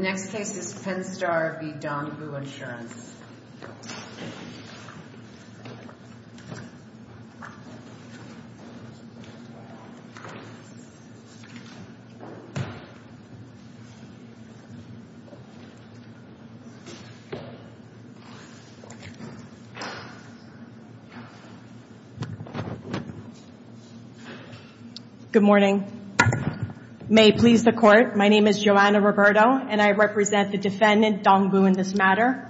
The next case is Penn-Star v. Dongbu Insurance. Good morning. May it please the Court, my name is Joanna Roberto and I represent the defendant, Dongbu, in this matter.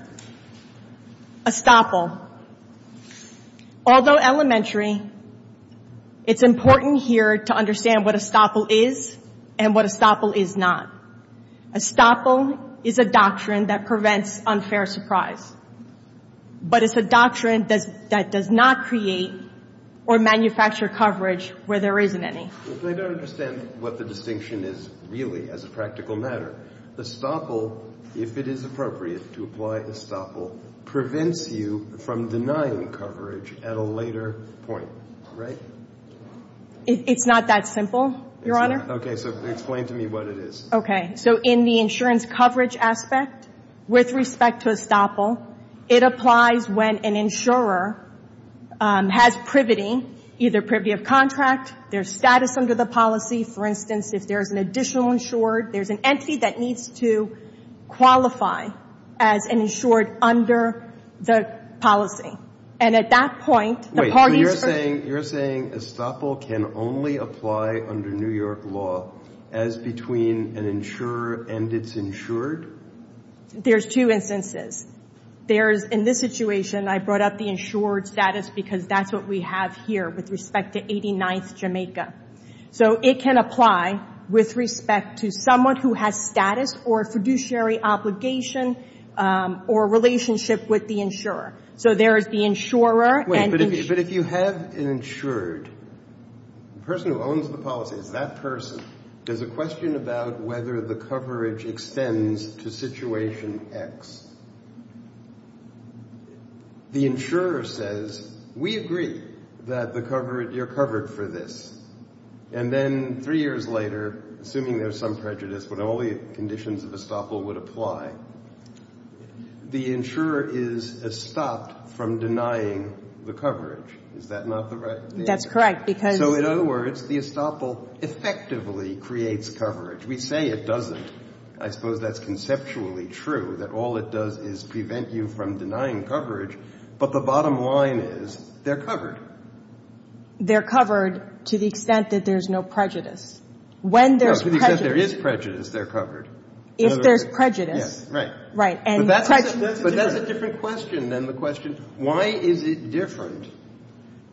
Although elementary, it's important here to understand what Estoppel is and what Estoppel is not. Estoppel is a doctrine that prevents unfair surprise. But it's a doctrine that does not create or manufacture coverage where there isn't any. I don't understand what the distinction is really as a practical matter. Estoppel, if it is appropriate to apply Estoppel, prevents you from denying coverage at a later point, right? It's not that simple, Your Honor. Okay, so explain to me what it is. Okay. So in the insurance coverage aspect, with respect to Estoppel, it applies when an insurer has privity, either privity of contract, their status under the policy. For instance, if there's an additional insured, there's an entity that needs to qualify as an insured under the policy. And at that point, the parties are Wait, so you're saying Estoppel can only apply under New York law as between an insurer and its insured? There's two instances. There's, in this situation, I brought up the insured status because that's what we have here with respect to 89th Jamaica. So it can apply with respect to someone who has status or a fiduciary obligation or a relationship with the insurer. So there is the insurer and Wait, but if you have an insured, the person who owns the policy, there's a question about whether the coverage extends to situation X. The insurer says, we agree that you're covered for this. And then three years later, assuming there's some prejudice, but only conditions of Estoppel would apply, the insurer is stopped from denying the coverage. Is that not the right thing? That's correct because So in other words, the Estoppel effectively creates coverage. We say it doesn't. I suppose that's conceptually true, that all it does is prevent you from denying coverage. But the bottom line is they're covered. They're covered to the extent that there's no prejudice. When there's prejudice No, to the extent there is prejudice, they're covered. If there's prejudice Yes, right. Right. But that's a different question than the question, why is it different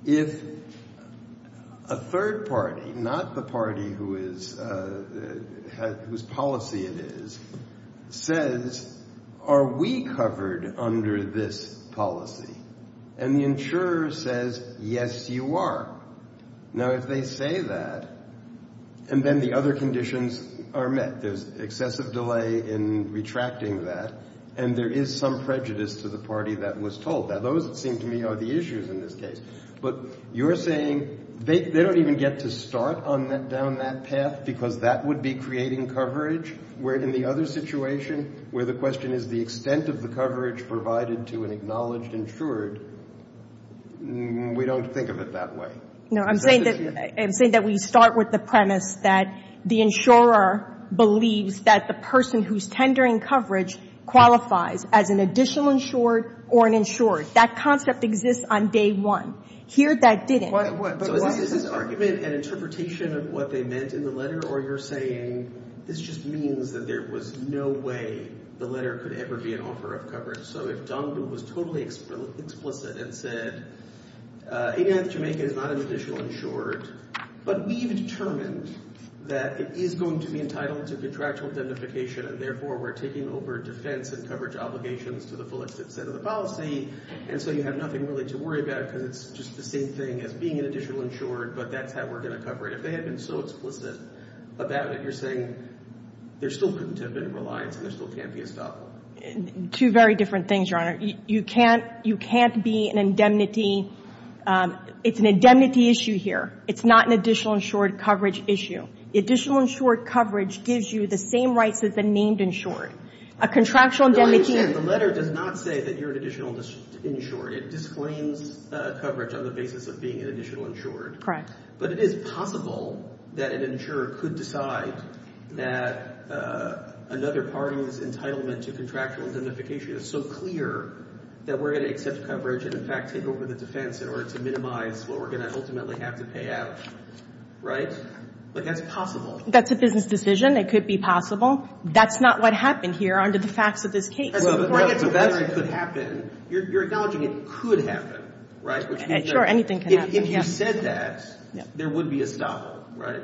if a third party, not the party whose policy it is, says, are we covered under this policy? And the insurer says, yes, you are. Now, if they say that, and then the other conditions are met. There's excessive delay in retracting that. And there is some prejudice to the party that was told. Now, those, it seems to me, are the issues in this case. But you're saying they don't even get to start down that path because that would be creating coverage, where in the other situation where the question is the extent of the coverage provided to an acknowledged insured, we don't think of it that way. No, I'm saying that we start with the premise that the insurer believes that the person whose tendering coverage qualifies as an additional insured or an insured, that concept exists on day one. Here, that didn't. So is this argument an interpretation of what they meant in the letter? Or you're saying this just means that there was no way the letter could ever be an offer of coverage? So if Dumbledore was totally explicit and said, 89th Jamaica is not an additional insured, but we've determined that it is going to be entitled to contractual identification, and therefore we're taking over defense and coverage obligations to the fullest extent of the policy, and so you have nothing really to worry about because it's just the same thing as being an additional insured, but that's how we're going to cover it. If they had been so explicit about it, you're saying there still couldn't have been a reliance and there still can't be a stop. Two very different things, Your Honor. You can't be an indemnity. It's an indemnity issue here. It's not an additional insured coverage issue. The additional insured coverage gives you the same rights as the named insured. A contractual indemnity. The letter does not say that you're an additional insured. It disclaims coverage on the basis of being an additional insured. Correct. But it is possible that an insurer could decide that another party's entitlement to contractual identification is so clear that we're going to accept coverage and, in fact, take over the defense in order to minimize what we're going to ultimately have to pay out. Right? But that's possible. That's a business decision. It could be possible. That's not what happened here under the facts of this case. Before I get to whether it could happen, you're acknowledging it could happen, right? Sure, anything can happen. If you said that, there would be a stop, right?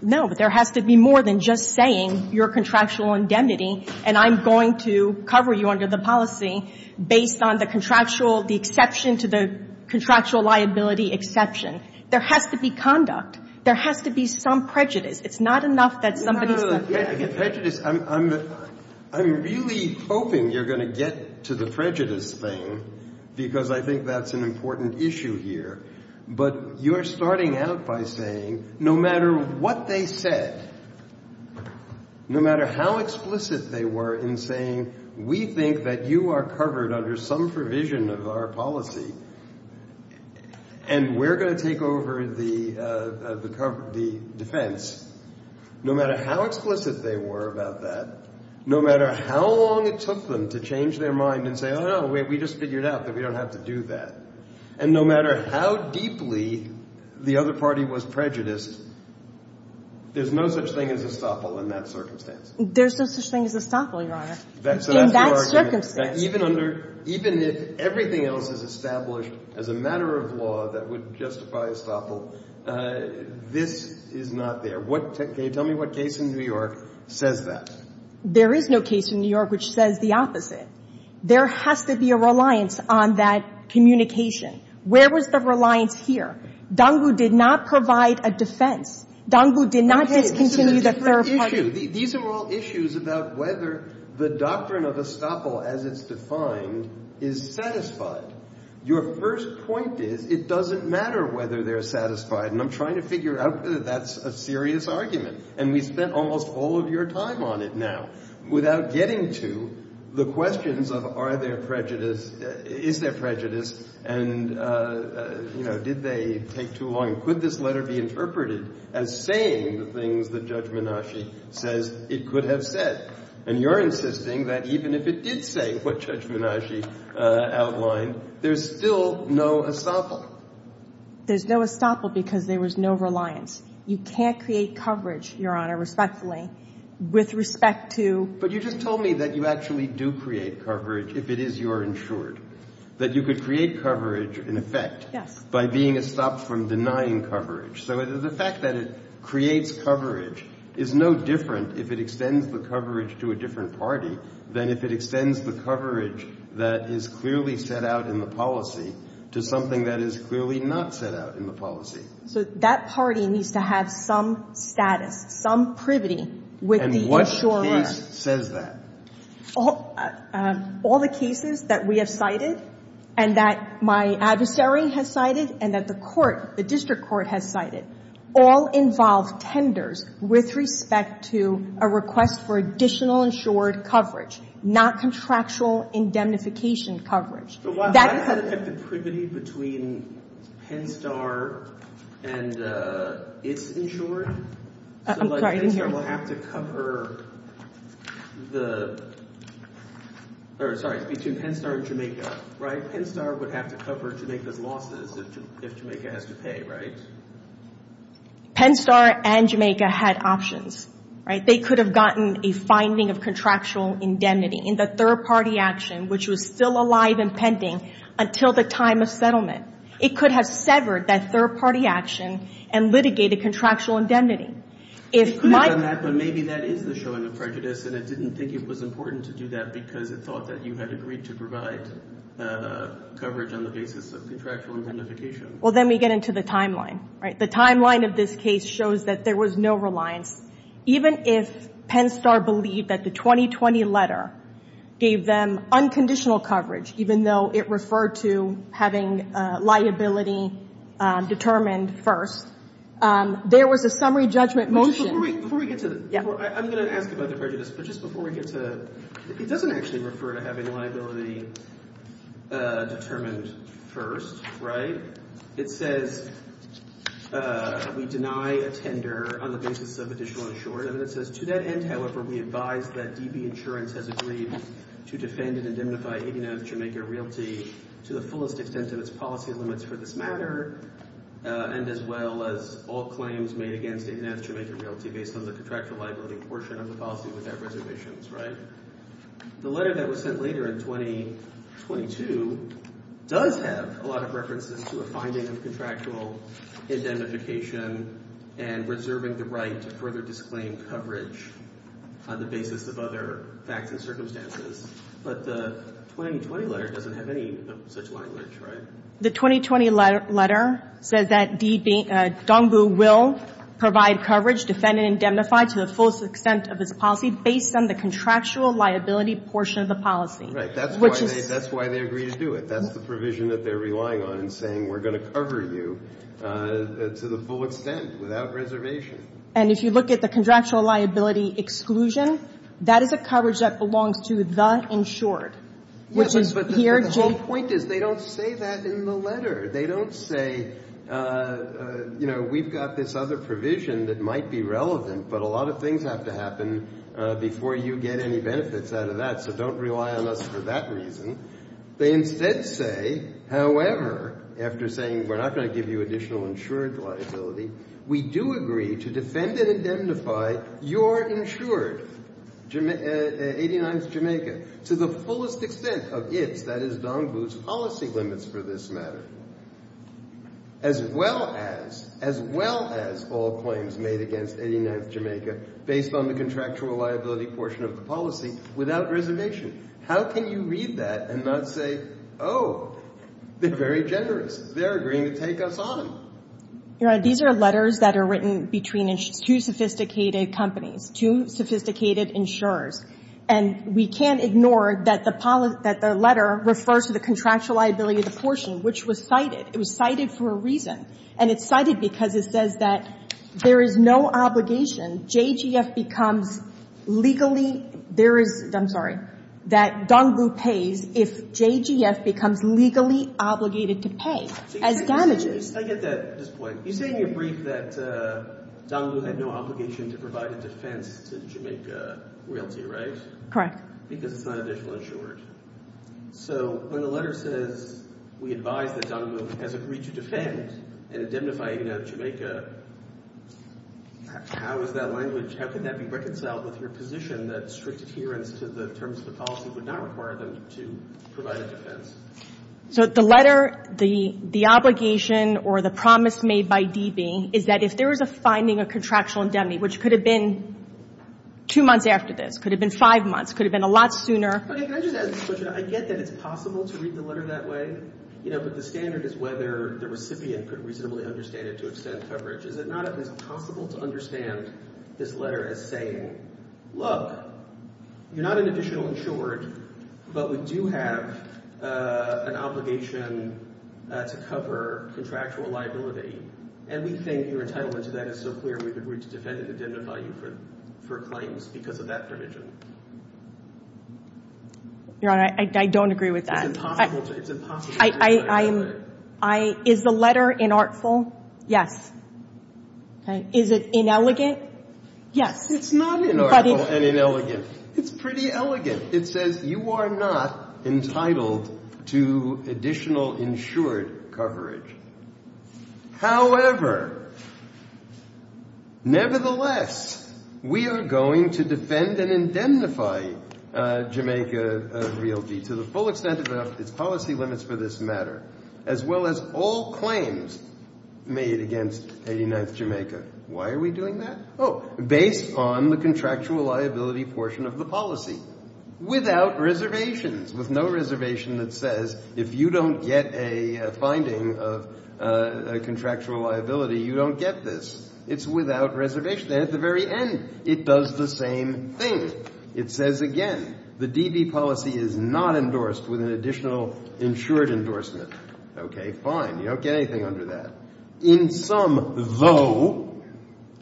No, but there has to be more than just saying you're a contractual indemnity and I'm going to cover you under the policy based on the contractual, the exception to the contractual liability exception. There has to be conduct. There has to be some prejudice. It's not enough that somebody said that. No, no, no. Prejudice. I'm really hoping you're going to get to the prejudice thing because I think that's an important issue here. But you're starting out by saying no matter what they said, no matter how explicit they were in saying, we think that you are covered under some provision of our policy and we're going to take over the defense, no matter how explicit they were about that, no matter how long it took them to change their mind and say, oh, no, we just figured out that we don't have to do that, and no matter how deeply the other party was prejudiced, there's no such thing as estoppel in that circumstance. There's no such thing as estoppel, Your Honor, in that circumstance. Even under – even if everything else is established as a matter of law that would justify estoppel, this is not there. What – can you tell me what case in New York says that? There is no case in New York which says the opposite. There has to be a reliance on that communication. Where was the reliance here? Dangu did not provide a defense. Dangu did not just continue the third party. These are all issues about whether the doctrine of estoppel as it's defined is satisfied. Your first point is it doesn't matter whether they're satisfied. And I'm trying to figure out whether that's a serious argument. And we spent almost all of your time on it now without getting to the questions of are there prejudice – is there prejudice and, you know, did they take too long? Could this letter be interpreted as saying the things that Judge Menasche says it could have said? And you're insisting that even if it did say what Judge Menasche outlined, there's still no estoppel. There's no estoppel because there was no reliance. You can't create coverage, Your Honor, respectfully, with respect to – But you just told me that you actually do create coverage if it is your insured, that you could create coverage in effect – Yes. By being estopped from denying coverage. So the fact that it creates coverage is no different if it extends the coverage to a different party than if it extends the coverage that is clearly set out in the policy to something that is clearly not set out in the policy. So that party needs to have some status, some privity with the insurer. And what case says that? All the cases that we have cited and that my adversary has cited and that the court, the district court has cited, all involve tenders with respect to a request for additional insured coverage, not contractual indemnification coverage. But that has affected privity between Penn Star and its insurer. I'm sorry. So like Penn Star will have to cover the – or sorry, between Penn Star and Jamaica, right? Penn Star would have to cover Jamaica's losses if Jamaica has to pay, right? Penn Star and Jamaica had options, right? They could have gotten a finding of contractual indemnity in the third-party action, which was still alive and pending until the time of settlement. It could have severed that third-party action and litigated contractual indemnity. It could have done that, but maybe that is the showing of prejudice and it didn't think it was important to do that because it thought that you had agreed to provide coverage on the basis of contractual indemnification. Well, then we get into the timeline, right? The timeline of this case shows that there was no reliance. Even if Penn Star believed that the 2020 letter gave them unconditional coverage, even though it referred to having liability determined first, there was a summary judgment motion. Before we get to the – I'm going to ask about the prejudice, but just before we get to – it doesn't actually refer to having liability determined first, right? It says, we deny a tender on the basis of additional insurance. And then it says, to that end, however, we advise that DB Insurance has agreed to defend and indemnify 89th Jamaica Realty to the fullest extent of its policy limits for this matter and as well as all claims made against 89th Jamaica Realty based on the contractual liability portion of the policy without reservations, right? The letter that was sent later in 2022 does have a lot of references to a finding of contractual indemnification and reserving the right to further disclaim coverage on the basis of other facts and circumstances. But the 2020 letter doesn't have any of such language, right? The 2020 letter says that DB – Dong Bu will provide coverage, defend and indemnify to the fullest extent of its policy based on the contractual liability portion of the policy. Right. That's why they agree to do it. That's the provision that they're relying on in saying we're going to cover you to the full extent without reservation. And if you look at the contractual liability exclusion, that is a coverage that belongs to the insured, which is here. But the whole point is they don't say that in the letter. They don't say, you know, we've got this other provision that might be relevant, but a lot of things have to happen before you get any benefits out of that, so don't rely on us for that reason. They instead say, however, after saying we're not going to give you additional insured liability, we do agree to defend and indemnify your insured, 89th Jamaica, to the fullest extent of its, that is Dong Bu's policy limits for this matter, as well as, as well as all claims made against 89th Jamaica based on the contractual liability portion of the policy without reservation. How can you read that and not say, oh, they're very generous. They're agreeing to take us on. Your Honor, these are letters that are written between two sophisticated companies, two sophisticated insurers. And we can't ignore that the letter refers to the contractual liability portion, which was cited. It was cited for a reason. And it's cited because it says that there is no obligation. JGF becomes legally, there is, I'm sorry, that Dong Bu pays if JGF becomes legally obligated to pay as damages. I get that at this point. You say in your brief that Dong Bu had no obligation to provide a defense to Jamaica Realty, right? Correct. Because it's not additional insured. So when the letter says we advise that Dong Bu has agreed to defend and indemnify 89th Jamaica, how is that language, how can that be reconciled with your position that strict adherence to the terms of the policy would not require them to provide a defense? So the letter, the obligation or the promise made by DB is that if there is a finding of contractual indemnity, which could have been two months after this, could have been five months, could have been a lot sooner. Okay. Can I just ask this question? I get that it's possible to read the letter that way, you know, but the standard is whether the recipient could reasonably understand it to extend coverage. Is it not at least possible to understand this letter as saying, look, you're not an additional insured, but we do have an obligation to cover contractual liability, and we think your entitlement to that is so clear we've agreed to defend and indemnify you for claims because of that provision? Your Honor, I don't agree with that. It's impossible to read the letter that way. Is the letter inartful? Yes. Okay. Is it inelegant? Yes. It's not inartful and inelegant. It's pretty elegant. It says you are not entitled to additional insured coverage. However, nevertheless, we are going to defend and indemnify Jamaica Realty to the full extent of its policy limits for this matter, as well as all claims made against 89th Jamaica. Why are we doing that? Oh, based on the contractual liability portion of the policy, without reservations, with no reservation that says if you don't get a finding of contractual liability, you don't get this. It's without reservation. And at the very end, it does the same thing. It says, again, the DB policy is not endorsed with an additional insured endorsement. Okay, fine. You don't get anything under that. In sum, though,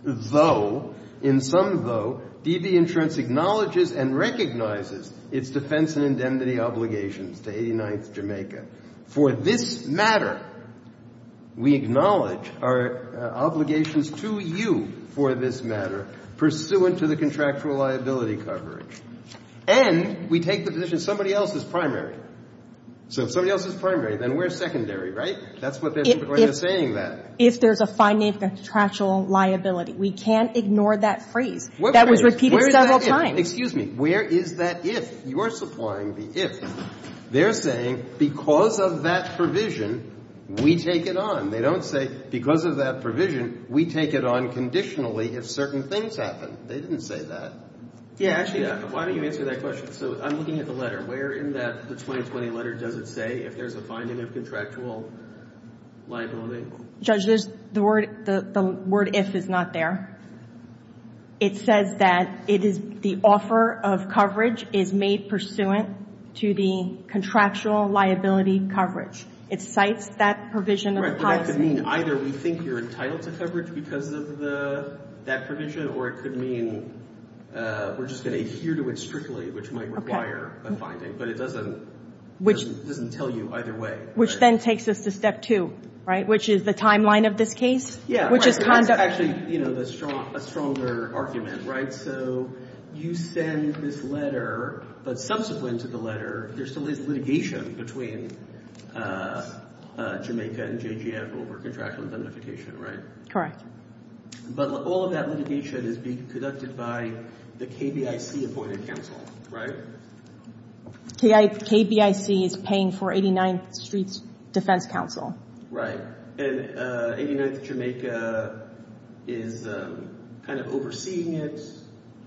though, in sum, though, DB insurance acknowledges and recognizes its defense and indemnity obligations to 89th Jamaica. For this matter, we acknowledge our obligations to you for this matter, pursuant to the contractual liability coverage. And we take the position somebody else is primary. So if somebody else is primary, then we're secondary, right? That's what they're saying there. If there's a finding of contractual liability. We can't ignore that phrase. That was repeated several times. Excuse me. Where is that if? You are supplying the if. They're saying because of that provision, we take it on. They don't say because of that provision, we take it on conditionally if certain things happen. They didn't say that. Yeah, actually, why don't you answer that question? So I'm looking at the letter. Where in the 2020 letter does it say if there's a finding of contractual liability? Judge, the word if is not there. It says that it is the offer of coverage is made pursuant to the contractual liability coverage. It cites that provision of the policy. Right, but that could mean either we think you're entitled to coverage because of that provision, or it could mean we're just going to adhere to it strictly, which might require a finding. But it doesn't tell you either way. Which then takes us to step two, right, which is the timeline of this case, which is conduct. Yeah, that's actually a stronger argument, right? So you send this letter, but subsequent to the letter, there still is litigation between Jamaica and JGF over contractual identification, right? Correct. But all of that litigation is being conducted by the KBIC appointed counsel, right? KBIC is paying for 89th Street's defense counsel. Right. And 89th Jamaica is kind of overseeing it,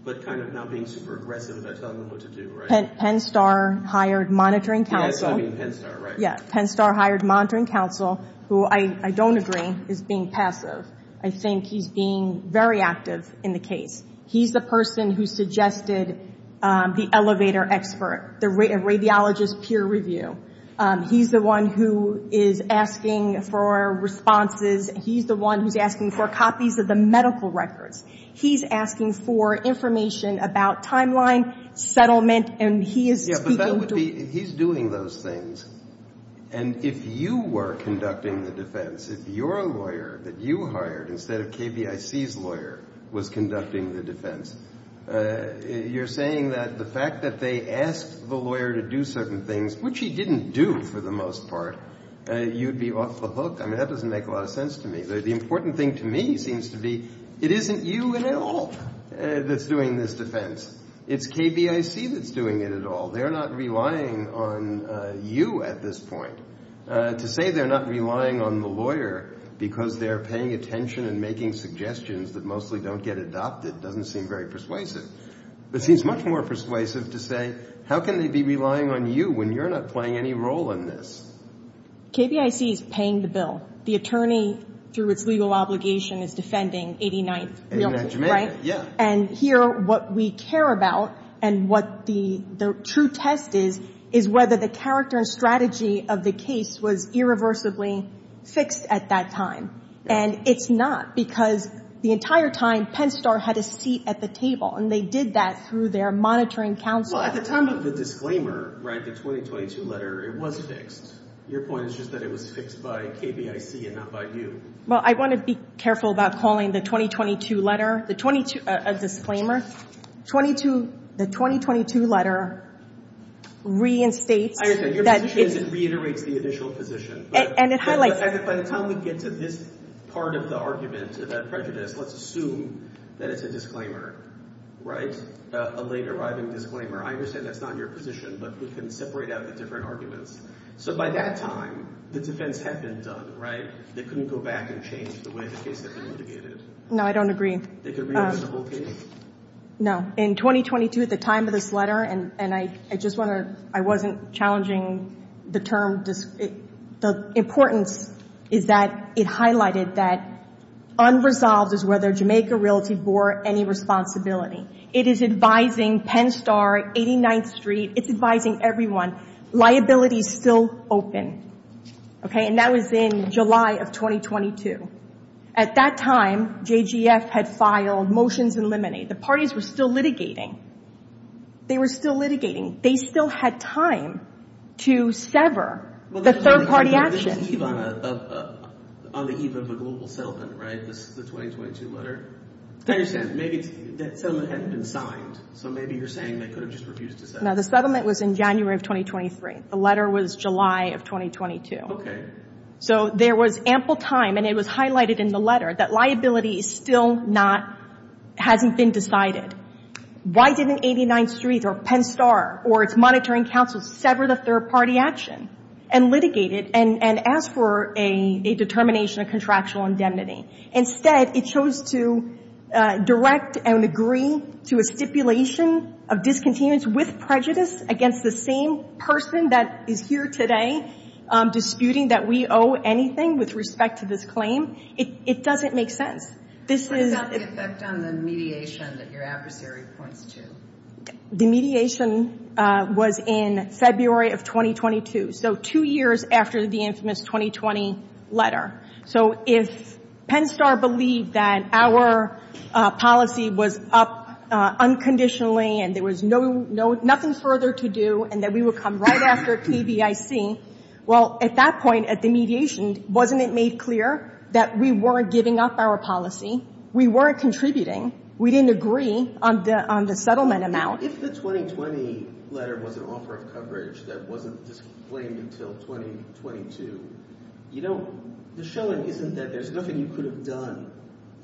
but kind of not being super aggressive about telling them what to do, right? Penn Star hired monitoring counsel. Yeah, that's what I mean, Penn Star, right. Yeah, Penn Star hired monitoring counsel, who I don't agree is being passive. I think he's being very active in the case. He's the person who suggested the elevator expert, the radiologist peer review. He's the one who is asking for responses. He's the one who's asking for copies of the medical records. He's asking for information about timeline, settlement, and he is speaking to them. He's doing those things. And if you were conducting the defense, if your lawyer that you hired instead of KBIC's lawyer was conducting the defense, you're saying that the fact that they asked the lawyer to do certain things, which he didn't do for the most part, you'd be off the hook. I mean, that doesn't make a lot of sense to me. The important thing to me seems to be it isn't you at all that's doing this defense. It's KBIC that's doing it at all. They're not relying on you at this point. To say they're not relying on the lawyer because they're paying attention and making suggestions that mostly don't get adopted doesn't seem very persuasive. It seems much more persuasive to say how can they be relying on you when you're not playing any role in this? KBIC is paying the bill. The attorney, through its legal obligation, is defending 89th Realty, right? And here, what we care about and what the true test is is whether the character and strategy of the case was irreversibly fixed at that time. And it's not because the entire time, Penn Star had a seat at the table, and they did that through their monitoring counsel. Well, at the time of the disclaimer, right, the 2022 letter, it was fixed. Your point is just that it was fixed by KBIC and not by you. Well, I want to be careful about calling the 2022 letter. A disclaimer? The 2022 letter reinstates that it's- Your position is it reiterates the initial position. And it highlights- By the time we get to this part of the argument, that prejudice, let's assume that it's a disclaimer, right? A late-arriving disclaimer. I understand that's not your position, but we can separate out the different arguments. So by that time, the defense had been done, right? They couldn't go back and change the way the case had been litigated. No, I don't agree. They could reopen the whole case. No. In 2022, at the time of this letter, and I just want to- I wasn't challenging the term. The importance is that it highlighted that unresolved is whether Jamaica Realty bore any responsibility. It is advising Penn Star, 89th Street. It's advising everyone. Liability is still open. Okay? And that was in July of 2022. At that time, JGF had filed motions in limine. The parties were still litigating. They were still litigating. They still had time to sever the third-party action. This is on the eve of a global settlement, right, the 2022 letter? I understand. Maybe that settlement hadn't been signed, so maybe you're saying they could have just refused to settle. No, the settlement was in January of 2023. The letter was July of 2022. Okay. So there was ample time, and it was highlighted in the letter, that liability is still not- hasn't been decided. Why didn't 89th Street or Penn Star or its monitoring councils sever the third-party action and litigate it and ask for a determination of contractual indemnity? Instead, it chose to direct and agree to a stipulation of discontinuance with prejudice against the same person that is here today disputing that we owe anything with respect to this claim. It doesn't make sense. What about the effect on the mediation that your adversary points to? The mediation was in February of 2022, so two years after the infamous 2020 letter. So if Penn Star believed that our policy was up unconditionally and there was no- nothing further to do and that we would come right after TVIC, well, at that point, at the mediation, wasn't it made clear that we weren't giving up our policy? We weren't contributing. We didn't agree on the settlement amount. If the 2020 letter was an offer of coverage that wasn't disclaimed until 2022, you don't- the showing isn't that there's nothing you could have done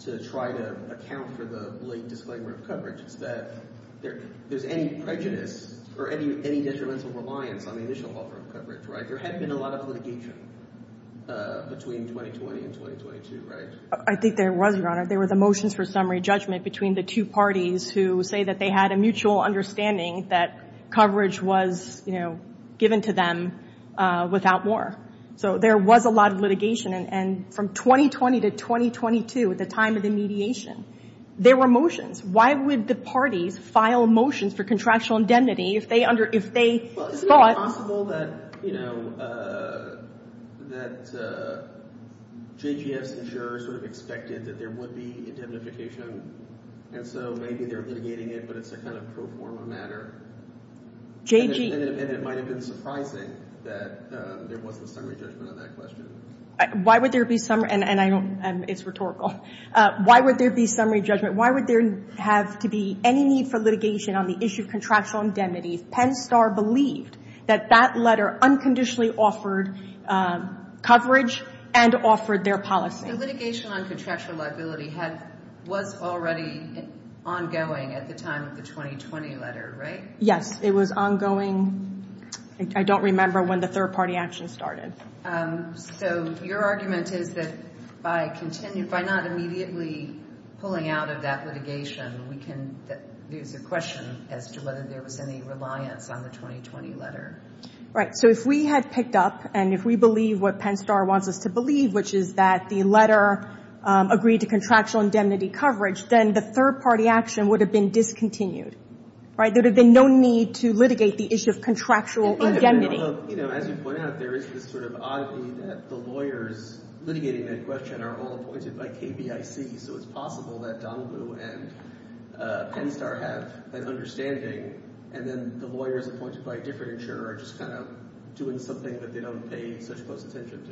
to try to account for the late disclaimer of coverage. It's that there's any prejudice or any detrimental reliance on the initial offer of coverage, right? There had been a lot of litigation between 2020 and 2022, right? I think there was, Your Honor. There were the motions for summary judgment between the two parties who say that they had a mutual understanding that coverage was given to them without more. So there was a lot of litigation. And from 2020 to 2022, at the time of the mediation, there were motions. Why would the parties file motions for contractual indemnity if they thought- And so maybe they're litigating it, but it's a kind of pro forma matter. And it might have been surprising that there wasn't a summary judgment on that question. Why would there be- and I don't- it's rhetorical. Why would there be summary judgment? Why would there have to be any need for litigation on the issue of contractual indemnity if Penn Star believed that that letter unconditionally offered coverage and offered their policy? The litigation on contractual liability was already ongoing at the time of the 2020 letter, right? Yes, it was ongoing. I don't remember when the third-party action started. So your argument is that by not immediately pulling out of that litigation, we can- there's a question as to whether there was any reliance on the 2020 letter. Right. So if we had picked up and if we believe what Penn Star wants us to believe, which is that the letter agreed to contractual indemnity coverage, then the third-party action would have been discontinued. Right? There would have been no need to litigate the issue of contractual indemnity. As you point out, there is this sort of oddity that the lawyers litigating that question are all appointed by KBIC, so it's possible that Donoghue and Penn Star have an understanding, and then the lawyers appointed by a different insurer are just kind of doing something that they don't pay such close attention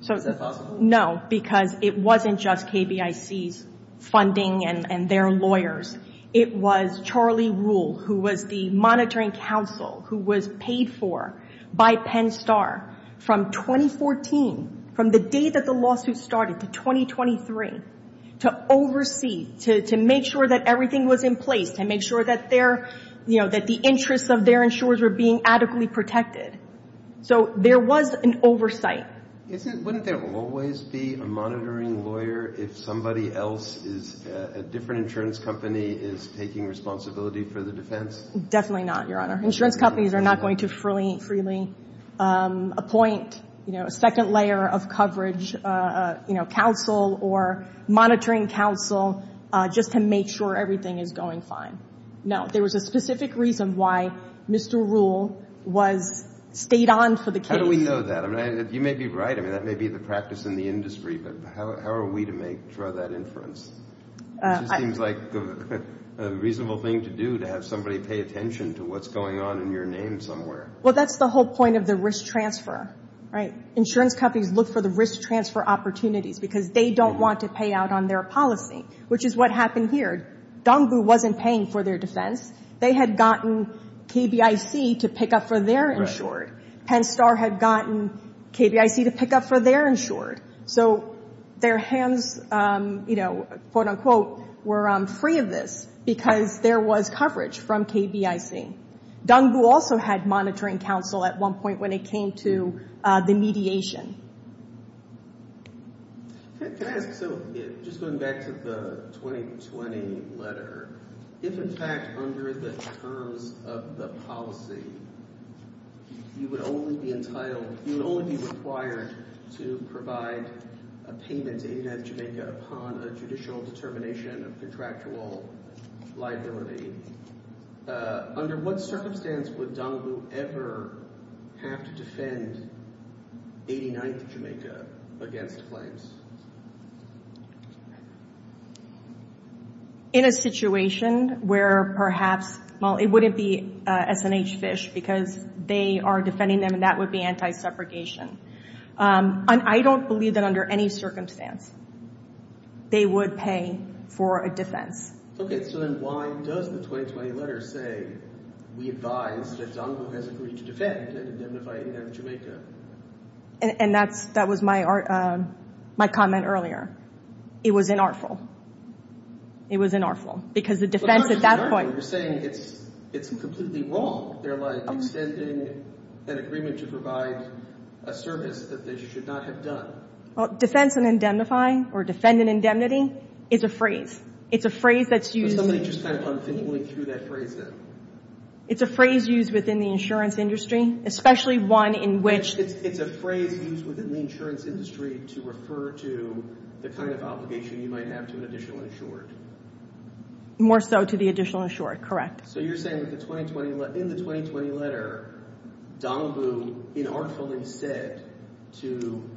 to. Is that possible? No, because it wasn't just KBIC's funding and their lawyers. It was Charlie Rule, who was the monitoring counsel, who was paid for by Penn Star from 2014, from the day that the lawsuit started to 2023, to oversee, to make sure that everything was in place and make sure that their, you know, that the interests of their insurers were being adequately protected. So there was an oversight. Wouldn't there always be a monitoring lawyer if somebody else, if a different insurance company is taking responsibility for the defense? Definitely not, Your Honor. Insurance companies are not going to freely appoint, you know, a second layer of coverage, you know, counsel or monitoring counsel just to make sure everything is going fine. No. There was a specific reason why Mr. Rule stayed on for the case. How do we know that? I mean, you may be right. I mean, that may be the practice in the industry, but how are we to make sure of that inference? It just seems like a reasonable thing to do, to have somebody pay attention to what's going on in your name somewhere. Well, that's the whole point of the risk transfer, right? Insurance companies look for the risk transfer opportunities because they don't want to pay out on their policy, which is what happened here. Dongbu wasn't paying for their defense. They had gotten KBIC to pick up for their insured. Penn Star had gotten KBIC to pick up for their insured. So their hands, you know, quote, unquote, were free of this because there was coverage from KBIC. Dongbu also had monitoring counsel at one point when it came to the mediation. Can I ask, so just going back to the 2020 letter, if, in fact, under the terms of the policy, you would only be entitled, you would only be required to provide a payment to ADF Jamaica upon a judicial determination of contractual liability, under what circumstance would Dongbu ever have to defend 89th Jamaica against claims? In a situation where perhaps, well, it wouldn't be S&H Fish because they are defending them, and that would be anti-separation. I don't believe that under any circumstance they would pay for a defense. Okay, so then why does the 2020 letter say we advise that Dongbu has agreed to defend and indemnify 89th Jamaica? And that was my comment earlier. It was inartful. It was inartful because the defense at that point— But not just inartful. You're saying it's completely wrong. They're, like, extending an agreement to provide a service that they should not have done. Well, defense and indemnifying or defendant indemnity is a phrase. It's a phrase that's used— Somebody just kind of unthinkingly threw that phrase in. It's a phrase used within the insurance industry, especially one in which— It's a phrase used within the insurance industry to refer to the kind of obligation you might have to an additional insured. More so to the additional insured, correct. So you're saying that in the 2020 letter, Dongbu inartfully said to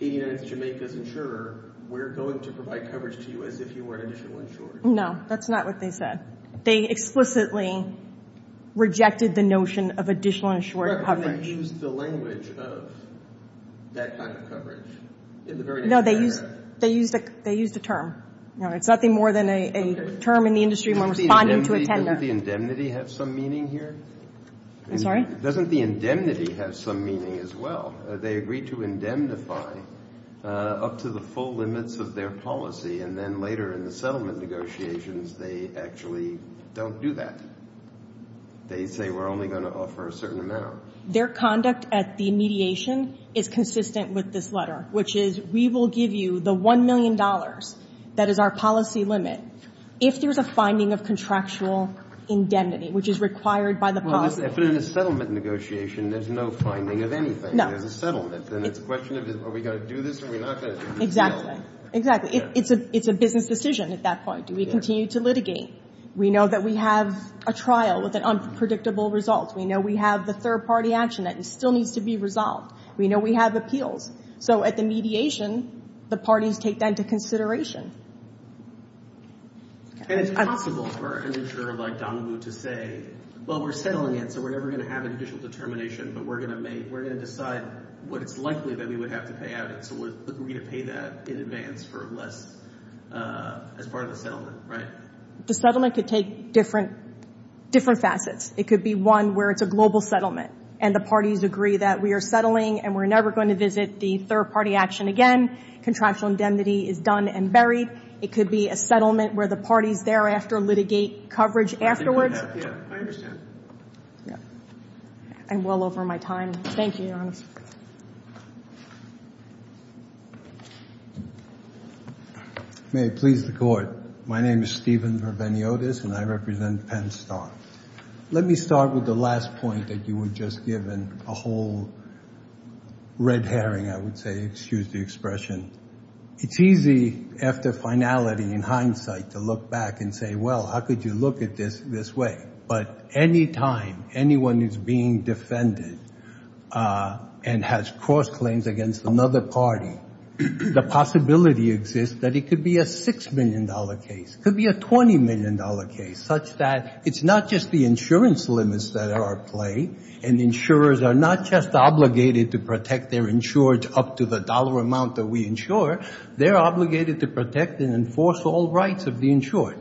89th Jamaica's insurer, we're going to provide coverage to you as if you were an additional insured. No, that's not what they said. They explicitly rejected the notion of additional insured coverage. But they used the language of that kind of coverage in the very next paragraph. No, they used a term. No, it's nothing more than a term in the industry when responding to a tender. Doesn't the indemnity have some meaning here? I'm sorry? Doesn't the indemnity have some meaning as well? They agreed to indemnify up to the full limits of their policy, and then later in the settlement negotiations, they actually don't do that. They say we're only going to offer a certain amount. Their conduct at the mediation is consistent with this letter, which is we will give you the $1 million that is our policy limit if there's a finding of contractual indemnity, which is required by the policy. But in a settlement negotiation, there's no finding of anything. No. There's a settlement. Then it's a question of are we going to do this or are we not going to do this at all? Exactly. It's a business decision at that point. Do we continue to litigate? We know that we have a trial with an unpredictable result. We know we have the third-party action that still needs to be resolved. We know we have appeals. So at the mediation, the parties take that into consideration. And it's possible for an insurer like Donoghue to say, well, we're settling it, so we're never going to have an additional determination, but we're going to decide what it's likely that we would have to pay out, and so we're going to pay that in advance for less as part of the settlement, right? The settlement could take different facets. It could be one where it's a global settlement, and the parties agree that we are settling and we're never going to visit the third-party action again. Contractual indemnity is done and buried. It could be a settlement where the parties thereafter litigate coverage afterwards. I understand. I'm well over my time. Thank you, Your Honor. May it please the Court. My name is Stephen Rabeniotis, and I represent Penn Star. Let me start with the last point that you were just given, a whole red herring, I would say. Excuse the expression. It's easy after finality, in hindsight, to look back and say, well, how could you look at this this way? But any time anyone is being defended and has cross-claims against another party, the possibility exists that it could be a $6 million case, could be a $20 million case, such that it's not just the insurance limits that are at play, and insurers are not just obligated to protect their insured up to the dollar amount that we insure. They're obligated to protect and enforce all rights of the insured.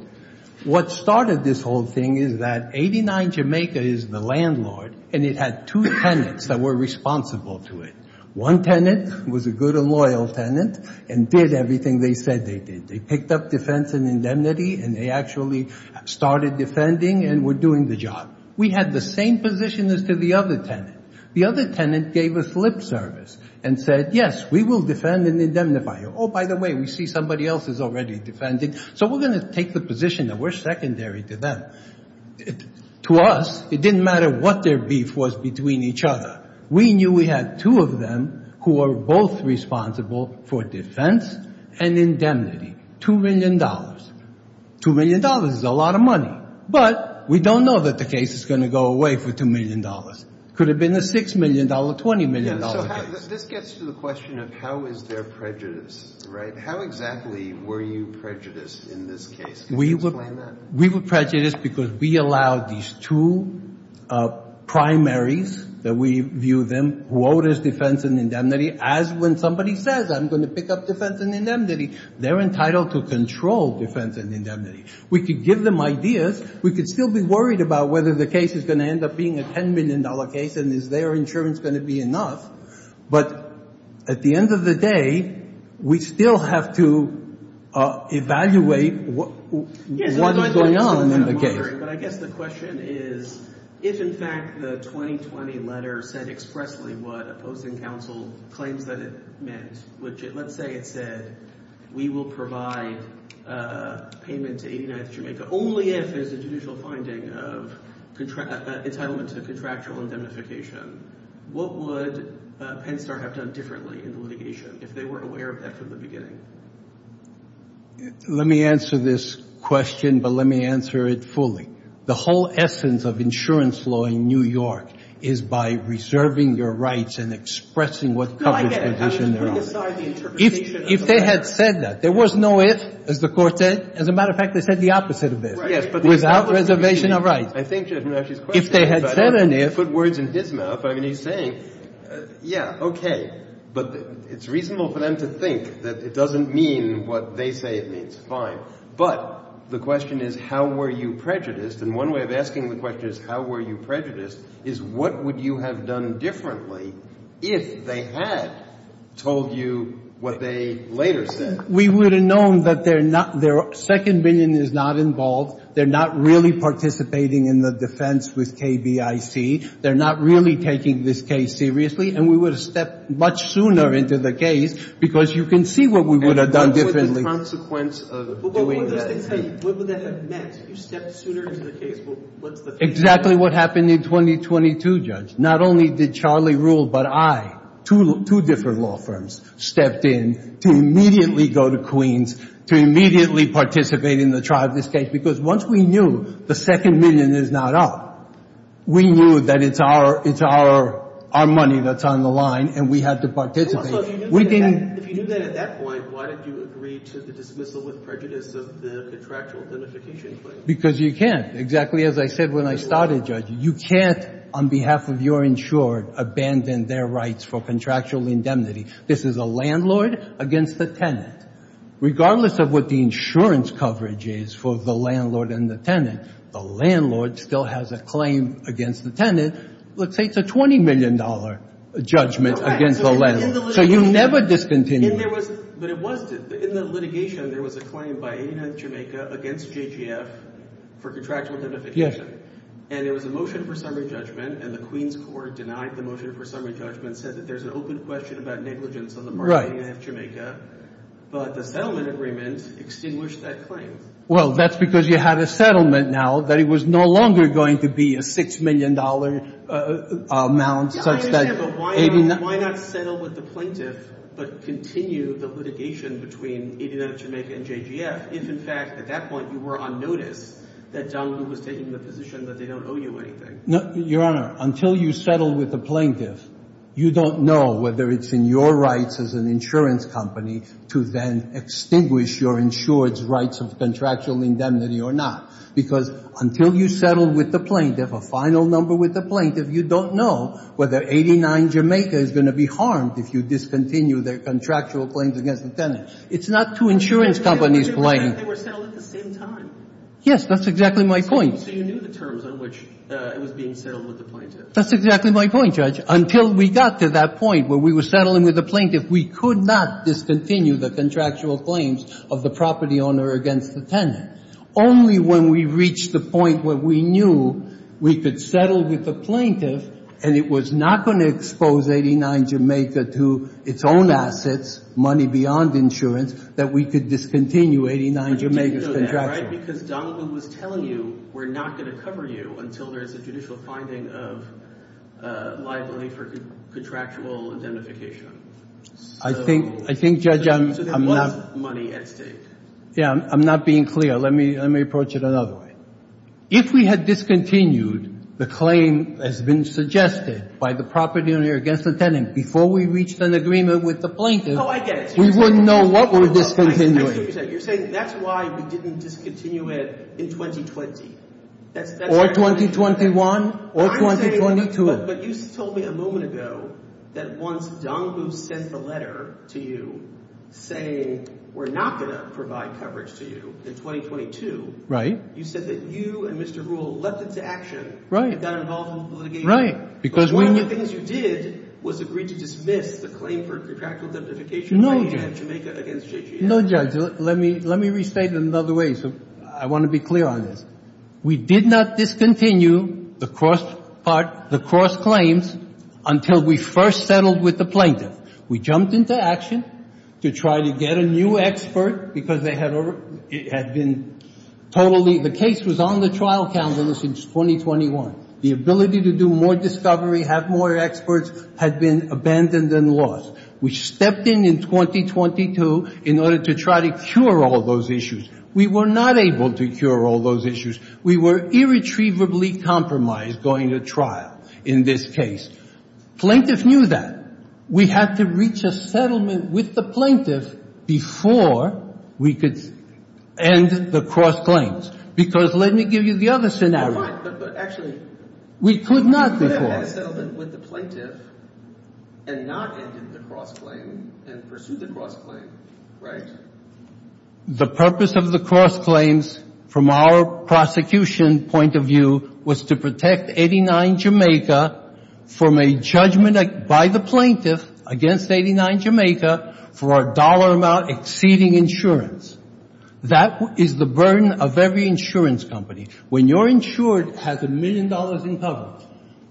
What started this whole thing is that 89 Jamaica is the landlord, and it had two tenants that were responsible to it. One tenant was a good and loyal tenant and did everything they said they did. They picked up defense and indemnity, and they actually started defending and were doing the job. We had the same position as to the other tenant. The other tenant gave us lip service and said, yes, we will defend and indemnify you. Oh, by the way, we see somebody else is already defending, so we're going to take the position that we're secondary to them. To us, it didn't matter what their beef was between each other. We knew we had two of them who were both responsible for defense and indemnity, $2 million. $2 million is a lot of money, but we don't know that the case is going to go away for $2 million. It could have been a $6 million, $20 million case. This gets to the question of how is there prejudice, right? How exactly were you prejudiced in this case? Can you explain that? We were prejudiced because we allowed these two primaries that we viewed them, who owed us defense and indemnity, as when somebody says I'm going to pick up defense and indemnity, they're entitled to control defense and indemnity. We could give them ideas. We could still be worried about whether the case is going to end up being a $10 million case and is their insurance going to be enough, but at the end of the day, we still have to evaluate what is going on in the case. But I guess the question is if in fact the 2020 letter said expressly what opposing counsel claims that it meant, which let's say it said we will provide payment to 89th Jamaica only if there's a judicial finding of entitlement to contractual indemnification, what would Penn Star have done differently in the litigation if they were aware of that from the beginning? Let me answer this question, but let me answer it fully. The whole essence of insurance law in New York is by reserving your rights and expressing what covers position they're on. If they had said that, there was no if, as the court said. As a matter of fact, they said the opposite of this. Without reservation of rights. I think Judge Menasche's question is about putting words in his mouth. I mean, he's saying, yeah, okay, but it's reasonable for them to think that it doesn't mean what they say it means. Fine. But the question is how were you prejudiced? And one way of asking the question is how were you prejudiced is what would you have done differently if they had told you what they later said? We would have known that their second opinion is not involved. They're not really participating in the defense with KBIC. They're not really taking this case seriously. And we would have stepped much sooner into the case because you can see what we would have done differently. And what would the consequence of doing that have been? What would that have meant? If you stepped sooner into the case, what's the consequence? Exactly what happened in 2022, Judge. Not only did Charlie rule, but I, two different law firms, stepped in to immediately go to Queens to immediately participate in the trial of this case because once we knew the second million is not up, we knew that it's our money that's on the line and we had to participate. Also, if you knew that at that point, why did you agree to the dismissal with prejudice of the contractual indemnification claim? Because you can't. Exactly as I said when I started, Judge, you can't on behalf of your insured abandon their rights for contractual indemnity. This is a landlord against the tenant. Regardless of what the insurance coverage is for the landlord and the tenant, the landlord still has a claim against the tenant. Let's say it's a $20 million judgment against the landlord. So you never discontinue. But it wasn't. In the litigation, there was a claim by 89th Jamaica against JGF for contractual indemnification. And there was a motion for summary judgment. And the Queens court denied the motion for summary judgment, said that there's an open question about negligence on the part of 89th Jamaica. But the settlement agreement extinguished that claim. Well, that's because you have a settlement now that it was no longer going to be a $6 million amount. I understand, but why not settle with the plaintiff, but continue the litigation between 89th Jamaica and JGF if, in fact, at that point you were on notice that John Woo was taking the position that they don't owe you anything? Your Honor, until you settle with the plaintiff, you don't know whether it's in your rights as an insurance company to then extinguish your insured's rights of contractual indemnity or not. Because until you settle with the plaintiff, a final number with the plaintiff, you don't know whether 89th Jamaica is going to be harmed if you discontinue their contractual claims against the tenant. It's not two insurance companies playing. They were settled at the same time. Yes, that's exactly my point. So you knew the terms on which it was being settled with the plaintiff. That's exactly my point, Judge. Until we got to that point where we were settling with the plaintiff, we could not discontinue the contractual claims of the property owner against the tenant. Only when we reached the point where we knew we could settle with the plaintiff and it was not going to expose 89th Jamaica to its own assets, money beyond insurance, that we could discontinue 89th Jamaica's contractual claims. I think, Judge, I'm not being clear. Let me approach it another way. If we had discontinued the claim that's been suggested by the property owner against the tenant before we reached an agreement with the plaintiff, we wouldn't know what we're discontinuing. You're saying that's why we didn't discontinue it in 2020. Or 2021 or 2022. But you told me a moment ago that once Dong Wu sent the letter to you saying we're not going to provide coverage to you in 2022, you said that you and Mr. Rule leapt into action and got involved in the litigation. But one of the things you did was agree to dismiss the claim for contractual identification of 89th Jamaica against JGM. No, Judge. Let me restate it another way. I want to be clear on this. We did not discontinue the cross part, the cross claims, until we first settled with the plaintiff. We jumped into action to try to get a new expert because they had been totally, the case was on the trial calendar since 2021. The ability to do more discovery, have more experts had been abandoned and lost. We stepped in in 2022 in order to try to cure all those issues. We were not able to cure all those issues. We were irretrievably compromised going to trial in this case. Plaintiff knew that. We had to reach a settlement with the plaintiff before we could end the cross claims. Because let me give you the other scenario. Fine. But actually. We could not before. We could have had a settlement with the plaintiff and not ended the cross claim and pursued the cross claim, right? The purpose of the cross claims from our prosecution point of view was to protect 89 Jamaica from a judgment by the plaintiff against 89 Jamaica for a dollar amount exceeding insurance. That is the burden of every insurance company. When you're insured as a million dollars in coverage,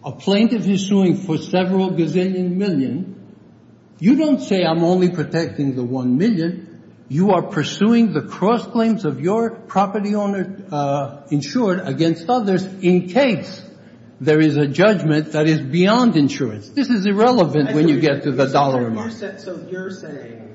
a plaintiff is suing for several gazillion million. You don't say I'm only protecting the one million. You are pursuing the cross claims of your property owner insured against others in case there is a judgment that is beyond insurance. This is irrelevant when you get to the dollar amount. So you're saying